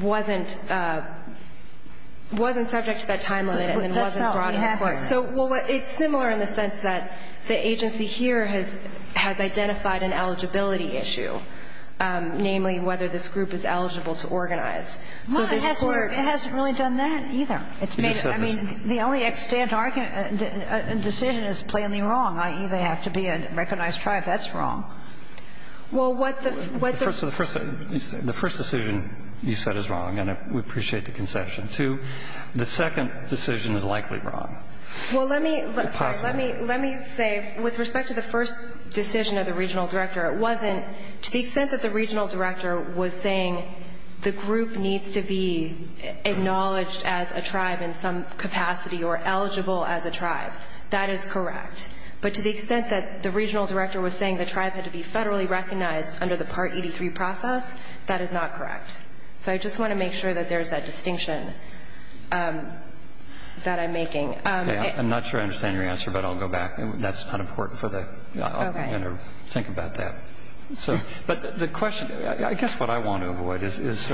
wasn't – wasn't subject to that time limit and it wasn't brought in court. So, well, it's similar in the sense that the agency here has – has identified an eligibility issue, namely whether this group is eligible to organize. So this Court – Well, it hasn't really done that either. It's made – I mean, the only extant decision is plainly wrong, i.e., they have to be a recognized tribe. That's wrong. Well, what the – what the – So the first – the first decision you said is wrong, and we appreciate the concession. Two, the second decision is likely wrong. Well, let me – Or possible. Sorry. Let me – let me say, with respect to the first decision of the regional director, it wasn't – to the extent that the regional director was saying the group needs to be acknowledged as a tribe in some capacity or eligible as a tribe, that is correct. But to the extent that the regional director was saying the tribe had to be federally recognized under the Part 83 process, that is not correct. So I just want to make sure that there's that distinction that I'm making. Okay. I'm not sure I understand your answer, but I'll go back. That's not important for the – Okay. I'll think about that. So – but the question – I guess what I want to avoid is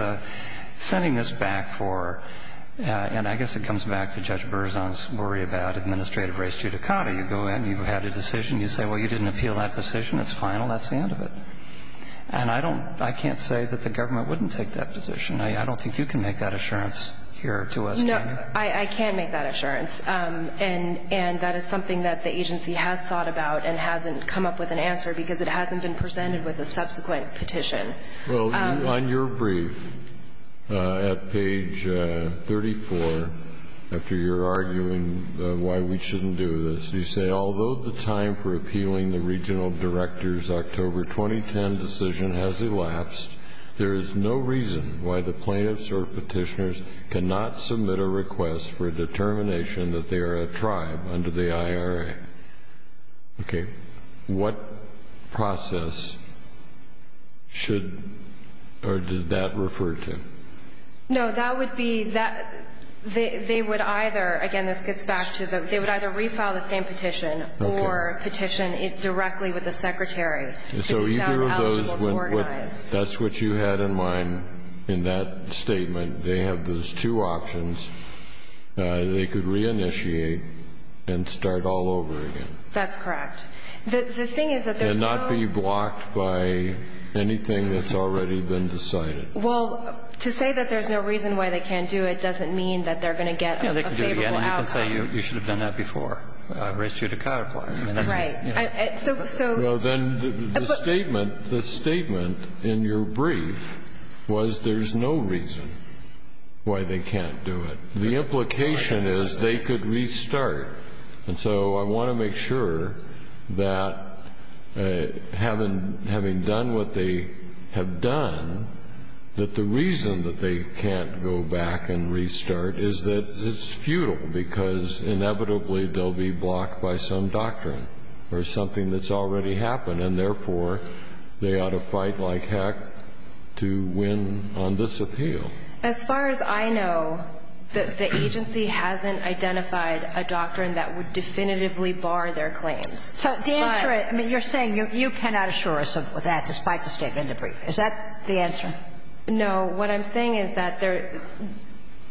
sending this back for – and I guess it comes back to Judge Berzon's worry about administrative race due to COTA. You go in, you've had a decision. You say, well, you didn't appeal that decision. It's final. That's the end of it. And I don't – I can't say that the government wouldn't take that position. I don't think you can make that assurance here to us, can you? No, I can make that assurance. And that is something that the agency has thought about and hasn't come up with an answer because it hasn't been presented with a subsequent petition. Well, on your brief at page 34, after you're arguing why we shouldn't do this, you say, although the time for appealing the regional director's October 2010 decision has elapsed, there is no reason why the plaintiffs or petitioners cannot submit a request for a determination that they are a tribe under the IRA. Okay. What process should – or did that refer to? No, that would be – they would either – again, this gets back to the – Okay. So either of those would – that's what you had in mind in that statement. They have those two options. They could reinitiate and start all over again. That's correct. The thing is that there's no – And not be blocked by anything that's already been decided. Well, to say that there's no reason why they can't do it doesn't mean that they're going to get a favorable outcome. I can say you should have done that before. I raised you at a counterpoint. Right. So – Well, then the statement – the statement in your brief was there's no reason why they can't do it. The implication is they could restart. And so I want to make sure that having done what they have done, that the reason that they can't go back and restart is that it's futile because inevitably they'll be blocked by some doctrine or something that's already happened. And therefore, they ought to fight like heck to win on this appeal. As far as I know, the agency hasn't identified a doctrine that would definitively bar their claims. So the answer is – I mean, you're saying you cannot assure us of that despite the statement in the brief. Is that the answer? No. What I'm saying is that there –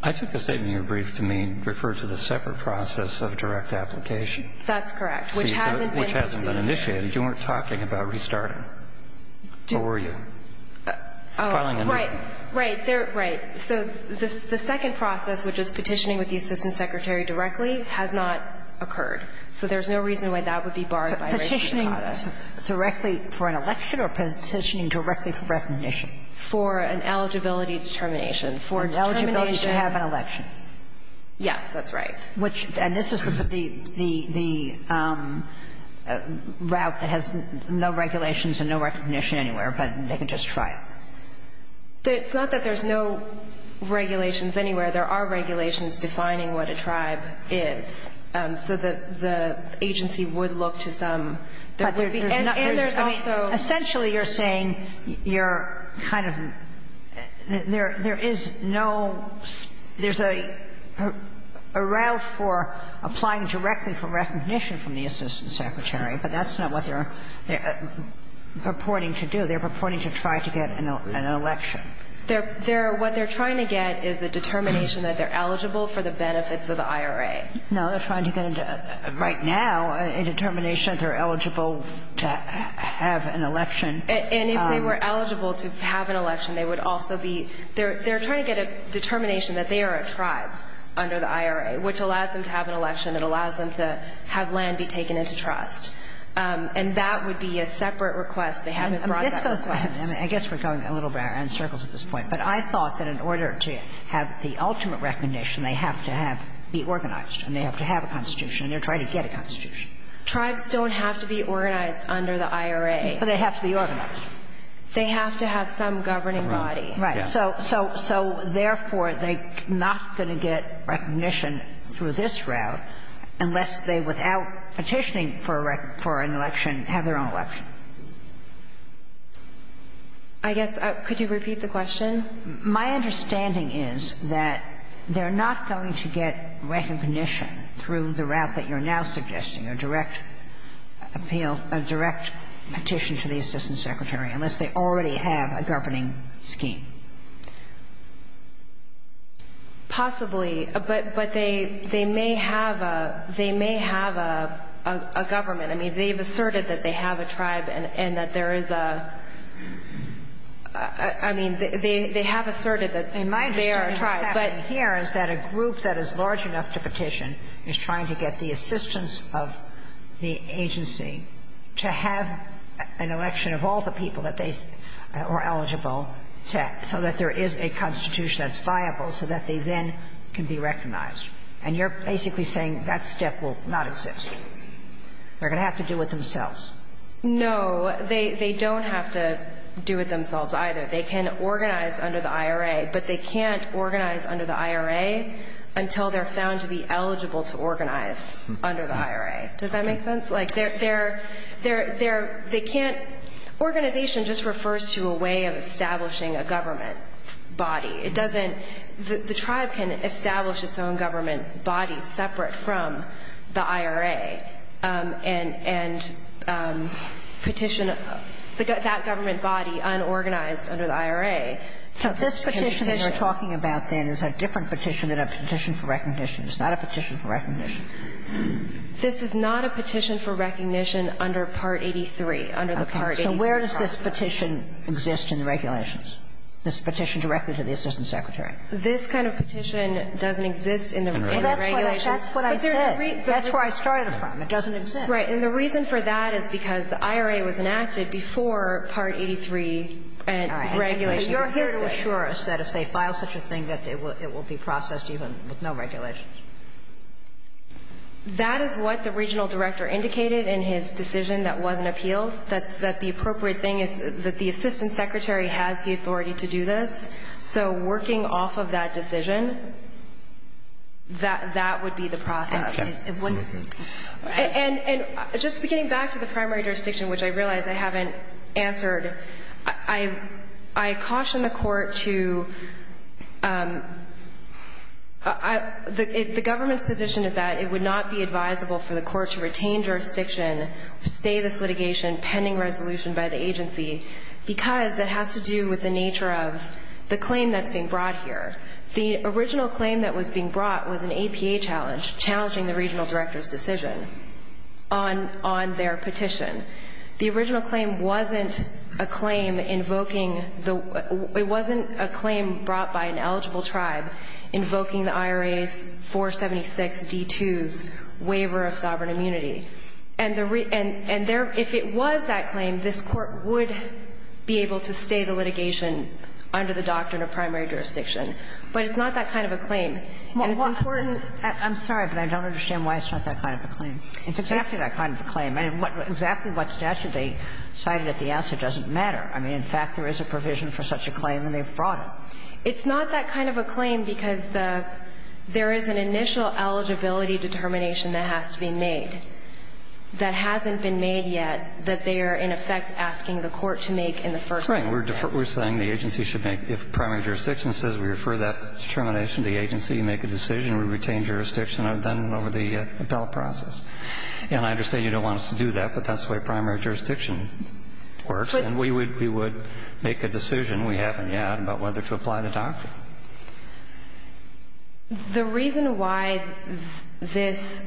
I took the statement in your brief to mean refer to the separate process of direct application. That's correct, which hasn't been pursued. Which hasn't been initiated. You weren't talking about restarting. Or were you? Oh. Right. Right. Right. So the second process, which is petitioning with the assistant secretary directly, has not occurred. So there's no reason why that would be barred by restatement. Petitioning directly for an election or petitioning directly for recognition? For an eligibility determination. For an eligibility to have an election. Yes, that's right. Which – and this is the route that has no regulations and no recognition anywhere, but they can just try it. It's not that there's no regulations anywhere. There are regulations defining what a tribe is. So the agency would look to some. And there's also – Essentially, you're saying you're kind of – there is no – there's a route for applying directly for recognition from the assistant secretary, but that's not what they're purporting to do. They're purporting to try to get an election. They're – what they're trying to get is a determination that they're eligible for the benefits of the IRA. No, they're trying to get into – right now, a determination that they're eligible to have an election. And if they were eligible to have an election, they would also be – they're trying to get a determination that they are a tribe under the IRA, which allows them to have an election. It allows them to have land be taken into trust. And that would be a separate request. They haven't brought that request. I guess we're going a little in circles at this point. But I thought that in order to have the ultimate recognition, they have to have – be organized. And they have to have a constitution. And they're trying to get a constitution. Tribes don't have to be organized under the IRA. But they have to be organized. They have to have some governing body. Right. So therefore, they're not going to get recognition through this route unless they, without petitioning for an election, have their own election. I guess – could you repeat the question? My understanding is that they're not going to get recognition through the route that you're now suggesting, a direct appeal, a direct petition to the assistant secretary, unless they already have a governing scheme. Possibly. But they may have a – they may have a government. I mean, they've asserted that they have a tribe and that there is a – I mean, they have asserted that they are a tribe, but – My understanding of what's happening here is that a group that is large enough to petition is trying to get the assistance of the agency to have an election of all the people that they are eligible to, so that there is a constitution that's viable so that they then can be recognized. And you're basically saying that step will not exist. They're going to have to do it themselves. No. They don't have to do it themselves either. They can organize under the IRA, but they can't organize under the IRA until they're found to be eligible to organize under the IRA. Does that make sense? Like, they're – they can't – organization just refers to a way of establishing a government body. It doesn't – the tribe can establish its own government body separate from the IRA and petition that government body unorganized under the IRA. So this petition that you're talking about, then, is a different petition than a petition for recognition. It's not a petition for recognition. This is not a petition for recognition under Part 83, under the Part 83 process. Okay. So where does this petition exist in the regulations, this petition directly to the assistant secretary? This kind of petition doesn't exist in the regulations. Well, that's what I said. That's where I started it from. It doesn't exist. Right. And the reason for that is because the IRA was enacted before Part 83 regulations existed. All right. But you're here to assure us that if they file such a thing that it will be processed even with no regulations. That is what the regional director indicated in his decision that wasn't appealed, that the appropriate thing is that the assistant secretary has the authority to do this. So working off of that decision, that would be the process. Okay. And just getting back to the primary jurisdiction, which I realize I haven't answered, I caution the court to the government's position is that it would not be advisable for the court to retain jurisdiction, stay this litigation pending resolution by the agency, because it has to do with the nature of the claim that's being brought here. The original claim that was being brought was an APA challenge, challenging the regional director's decision on their petition. The original claim wasn't a claim invoking the – it wasn't a claim brought by an eligible tribe invoking the IRA's 476D2's waiver of sovereign immunity. And if it was that claim, this Court would be able to stay the litigation under the doctrine of primary jurisdiction. But it's not that kind of a claim. And it's important. I'm sorry, but I don't understand why it's not that kind of a claim. It's exactly that kind of a claim. Exactly what statute they cited at the answer doesn't matter. I mean, in fact, there is a provision for such a claim and they've brought it. It's not that kind of a claim because there is an initial eligibility determination that has to be made. That hasn't been made yet that they are, in effect, asking the Court to make in the first instance. Right. We're saying the agency should make – if primary jurisdiction says we refer that determination to the agency, make a decision, we retain jurisdiction then over the appellate process. And I understand you don't want us to do that, but that's the way primary jurisdiction works. And we would make a decision we haven't yet about whether to apply the doctrine. The reason why this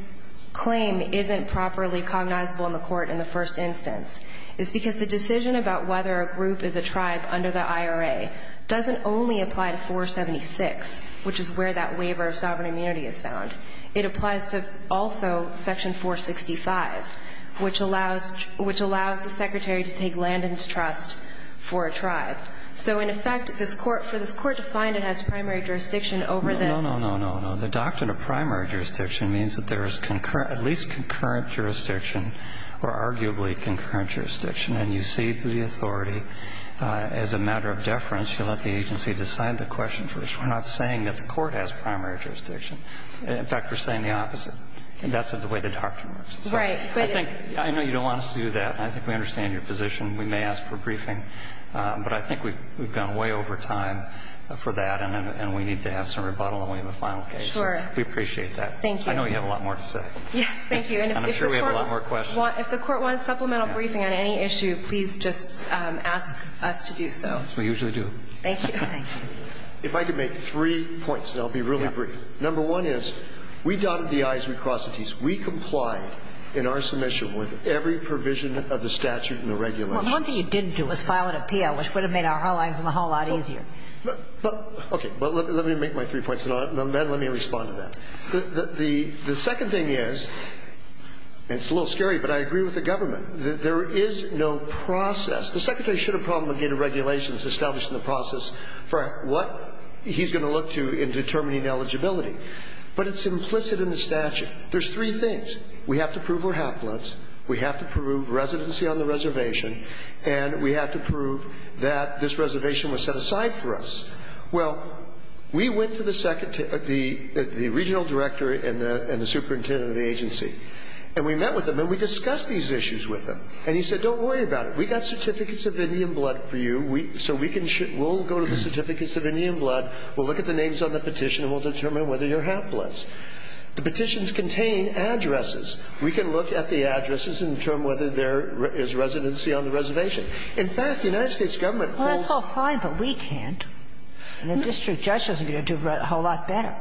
claim isn't properly cognizable in the Court in the first instance is because the decision about whether a group is a tribe under the IRA doesn't only apply to 476, which is where that waiver of sovereign immunity is found. It applies to also section 465, which allows the Secretary to take land into trust for a tribe. So in effect, this Court – for this Court to find it has primary jurisdiction over this – No, no, no, no, no. The doctrine of primary jurisdiction means that there is concurrent – at least concurrent jurisdiction, or arguably concurrent jurisdiction. And you see through the authority, as a matter of deference, you let the agency decide the question first. We're not saying that the Court has primary jurisdiction. In fact, we're saying the opposite. That's the way the doctrine works. Right. I think – I know you don't want us to do that. I think we understand your position. We may ask for a briefing. But I think we've gone way over time for that, and we need to have some rebuttal in the final case. Sure. We appreciate that. Thank you. I know you have a lot more to say. Yes, thank you. And I'm sure we have a lot more questions. If the Court wants supplemental briefing on any issue, please just ask us to do so. We usually do. Thank you. Thank you. If I could make three points, and they'll be really brief. Number one is, we dotted the i's, we crossed the t's. We complied in our submission with every provision of the statute and the regulations. Well, one thing you didn't do was file an appeal, which would have made our lives a whole lot easier. Okay. But let me make my three points, and then let me respond to that. The second thing is, and it's a little scary, but I agree with the government, that there is no process. The Secretary should have promulgated regulations established in the process for what he's going to look to in determining eligibility. But it's implicit in the statute. There's three things. We have to prove we're haplets. We have to prove residency on the reservation. And we have to prove that this reservation was set aside for us. Well, we went to the regional director and the superintendent of the agency, and we met with them, and we discussed these issues with them. And he said, don't worry about it. We've got certificates of Indian blood for you, so we'll go to the certificates of Indian blood, we'll look at the names on the petition, and we'll determine whether you're haplets. The petitions contain addresses. We can look at the addresses and determine whether there is residency on the reservation. In fact, the United States government holds ---- Well, that's all fine, but we can't. And the district judges are going to do a whole lot better.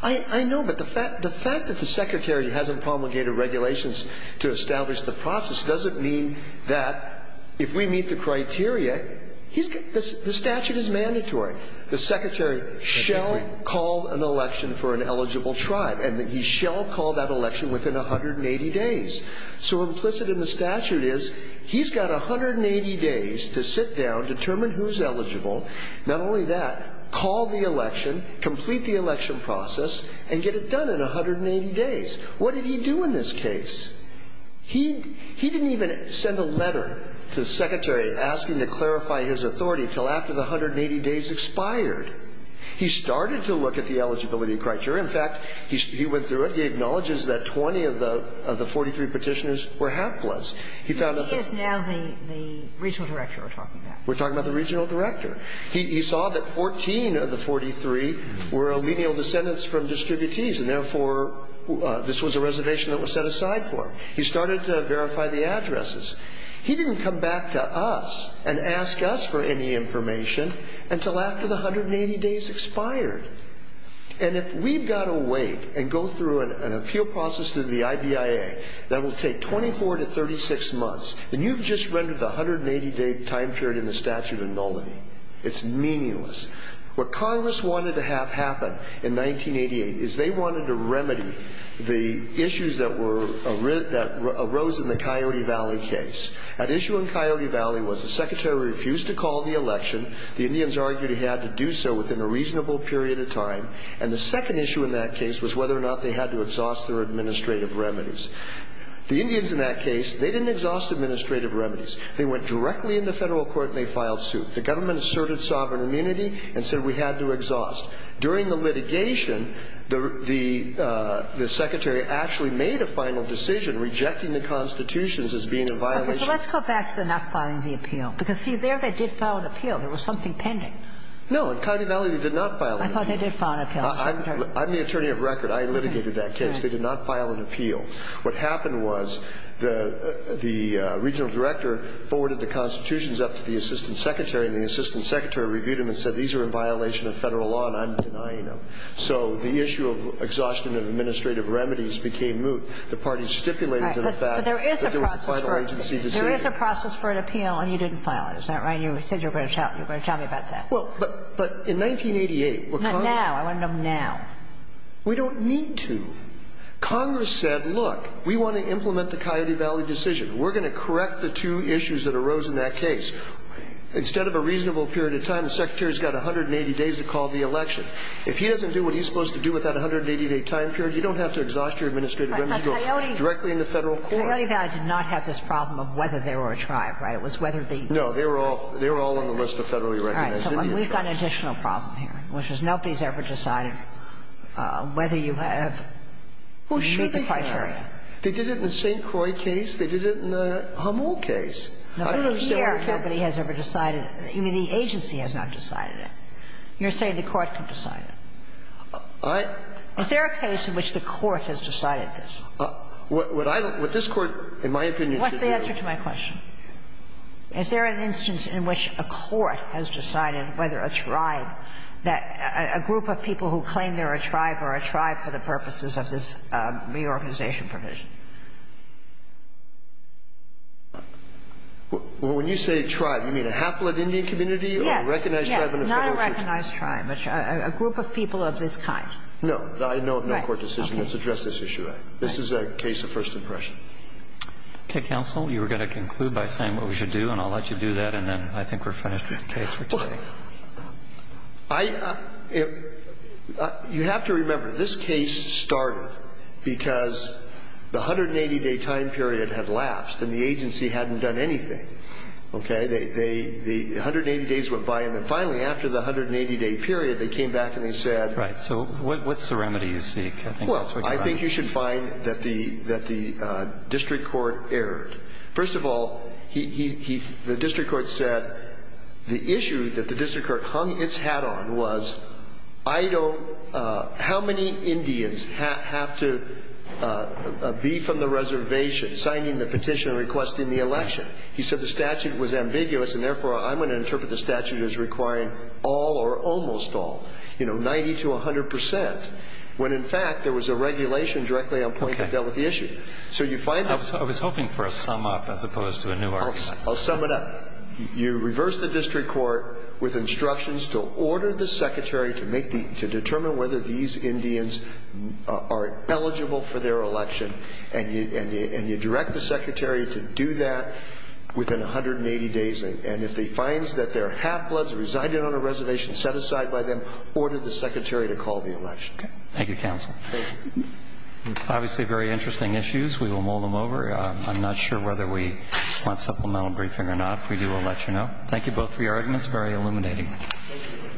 I know, but the fact that the Secretary hasn't promulgated regulations to establish the process doesn't mean that if we meet the criteria, he's going to ---- the statute is mandatory. The Secretary shall call an election for an eligible tribe. And he shall call that election within 180 days. So implicit in the statute is he's got 180 days to sit down, determine who's eligible, not only that, call the election, complete the election process, and get it done in 180 days. What did he do in this case? He didn't even send a letter to the Secretary asking to clarify his authority until after the 180 days expired. He started to look at the eligibility criteria. In fact, he went through it. He acknowledges that 20 of the 43 Petitioners were half-bloods. He found that the ---- He is now the regional director we're talking about. We're talking about the regional director. He saw that 14 of the 43 were lineal descendants from distributees, and therefore this was a reservation that was set aside for him. He started to verify the addresses. He didn't come back to us and ask us for any information until after the 180 days expired. And if we've got to wait and go through an appeal process through the IBIA that will take 24 to 36 months, then you've just rendered the 180-day time period in the statute a nullity. It's meaningless. What Congress wanted to have happen in 1988 is they wanted to remedy the issues that were ---- that arose in the Coyote Valley case. That issue in Coyote Valley was the Secretary refused to call the election. The Indians argued he had to do so within a reasonable period of time. And the second issue in that case was whether or not they had to exhaust their administrative remedies. The Indians in that case, they didn't exhaust administrative remedies. They went directly into Federal court and they filed suit. The government asserted sovereign immunity and said we had to exhaust. During the litigation, the Secretary actually made a final decision rejecting the Constitution as being in violation. So let's go back to not filing the appeal. Because, see, there they did file an appeal. There was something pending. No. In Coyote Valley, they did not file an appeal. I thought they did file an appeal. I'm the attorney of record. I litigated that case. They did not file an appeal. What happened was the regional director forwarded the Constitutions up to the assistant secretary and the assistant secretary reviewed them and said these are in violation of Federal law and I'm denying them. So the issue of exhaustion of administrative remedies became moot. The parties stipulated to the fact that there was a final agency decision. So you have a process for an appeal and you didn't file it. Is that right? You said you were going to tell me about that. Well, but in 1988, what Congress said. Not now. I want to know now. We don't need to. Congress said, look, we want to implement the Coyote Valley decision. We're going to correct the two issues that arose in that case. Instead of a reasonable period of time, the Secretary has got 180 days to call the election. If he doesn't do what he's supposed to do with that 180-day time period, you don't have to exhaust your administrative remedies directly in the Federal court. Well, Coyote Valley did not have this problem of whether they were a tribe, right? It was whether they were a tribe. No. They were all on the list of federally recognized Indian tribes. All right. So we've got an additional problem here, which is nobody's ever decided whether you have to meet the criteria. Well, sure they have. They did it in the St. Croix case. They did it in the Hummel case. I don't understand why you can't. No, but the air company has never decided it. You mean the agency has not decided it. You're saying the Court could decide it. I. Is there a case in which the Court has decided this? What this Court, in my opinion, could do. What's the answer to my question? Is there an instance in which a court has decided whether a tribe, a group of people who claim they're a tribe are a tribe for the purposes of this reorganization provision? When you say tribe, you mean a haploid Indian community or a recognized tribe in the Federal court? Yes. Yes. Not a recognized tribe, but a group of people of this kind. No. I know of no court decision that's addressed this issue. Okay. This is a case of first impression. Okay. Counsel, you were going to conclude by saying what we should do, and I'll let you do that, and then I think we're finished with the case for today. Well, I. You have to remember, this case started because the 180-day time period had lapsed and the agency hadn't done anything. Okay. The 180 days went by, and then finally, after the 180-day period, they came back and they said. Right. So what's the remedy you seek? Well, I think you should find that the district court erred. First of all, the district court said the issue that the district court hung its hat on was how many Indians have to be from the reservation signing the petition requesting the election? He said the statute was ambiguous, and therefore, I'm going to interpret the statute as requiring all or almost all, you know, 90 to 100%. When, in fact, there was a regulation directly on point that dealt with the issue. Okay. So you find that. I was hoping for a sum up as opposed to a new argument. I'll sum it up. You reverse the district court with instructions to order the secretary to determine whether these Indians are eligible for their election, and you direct the secretary to do that within 180 days. And if he finds that their half-bloods residing on a reservation set aside by them, order the secretary to call the election. Okay. Thank you, counsel. Obviously, very interesting issues. We will mull them over. I'm not sure whether we want supplemental briefing or not. If we do, we'll let you know. Thank you both for your arguments. Very illuminating. Thank you.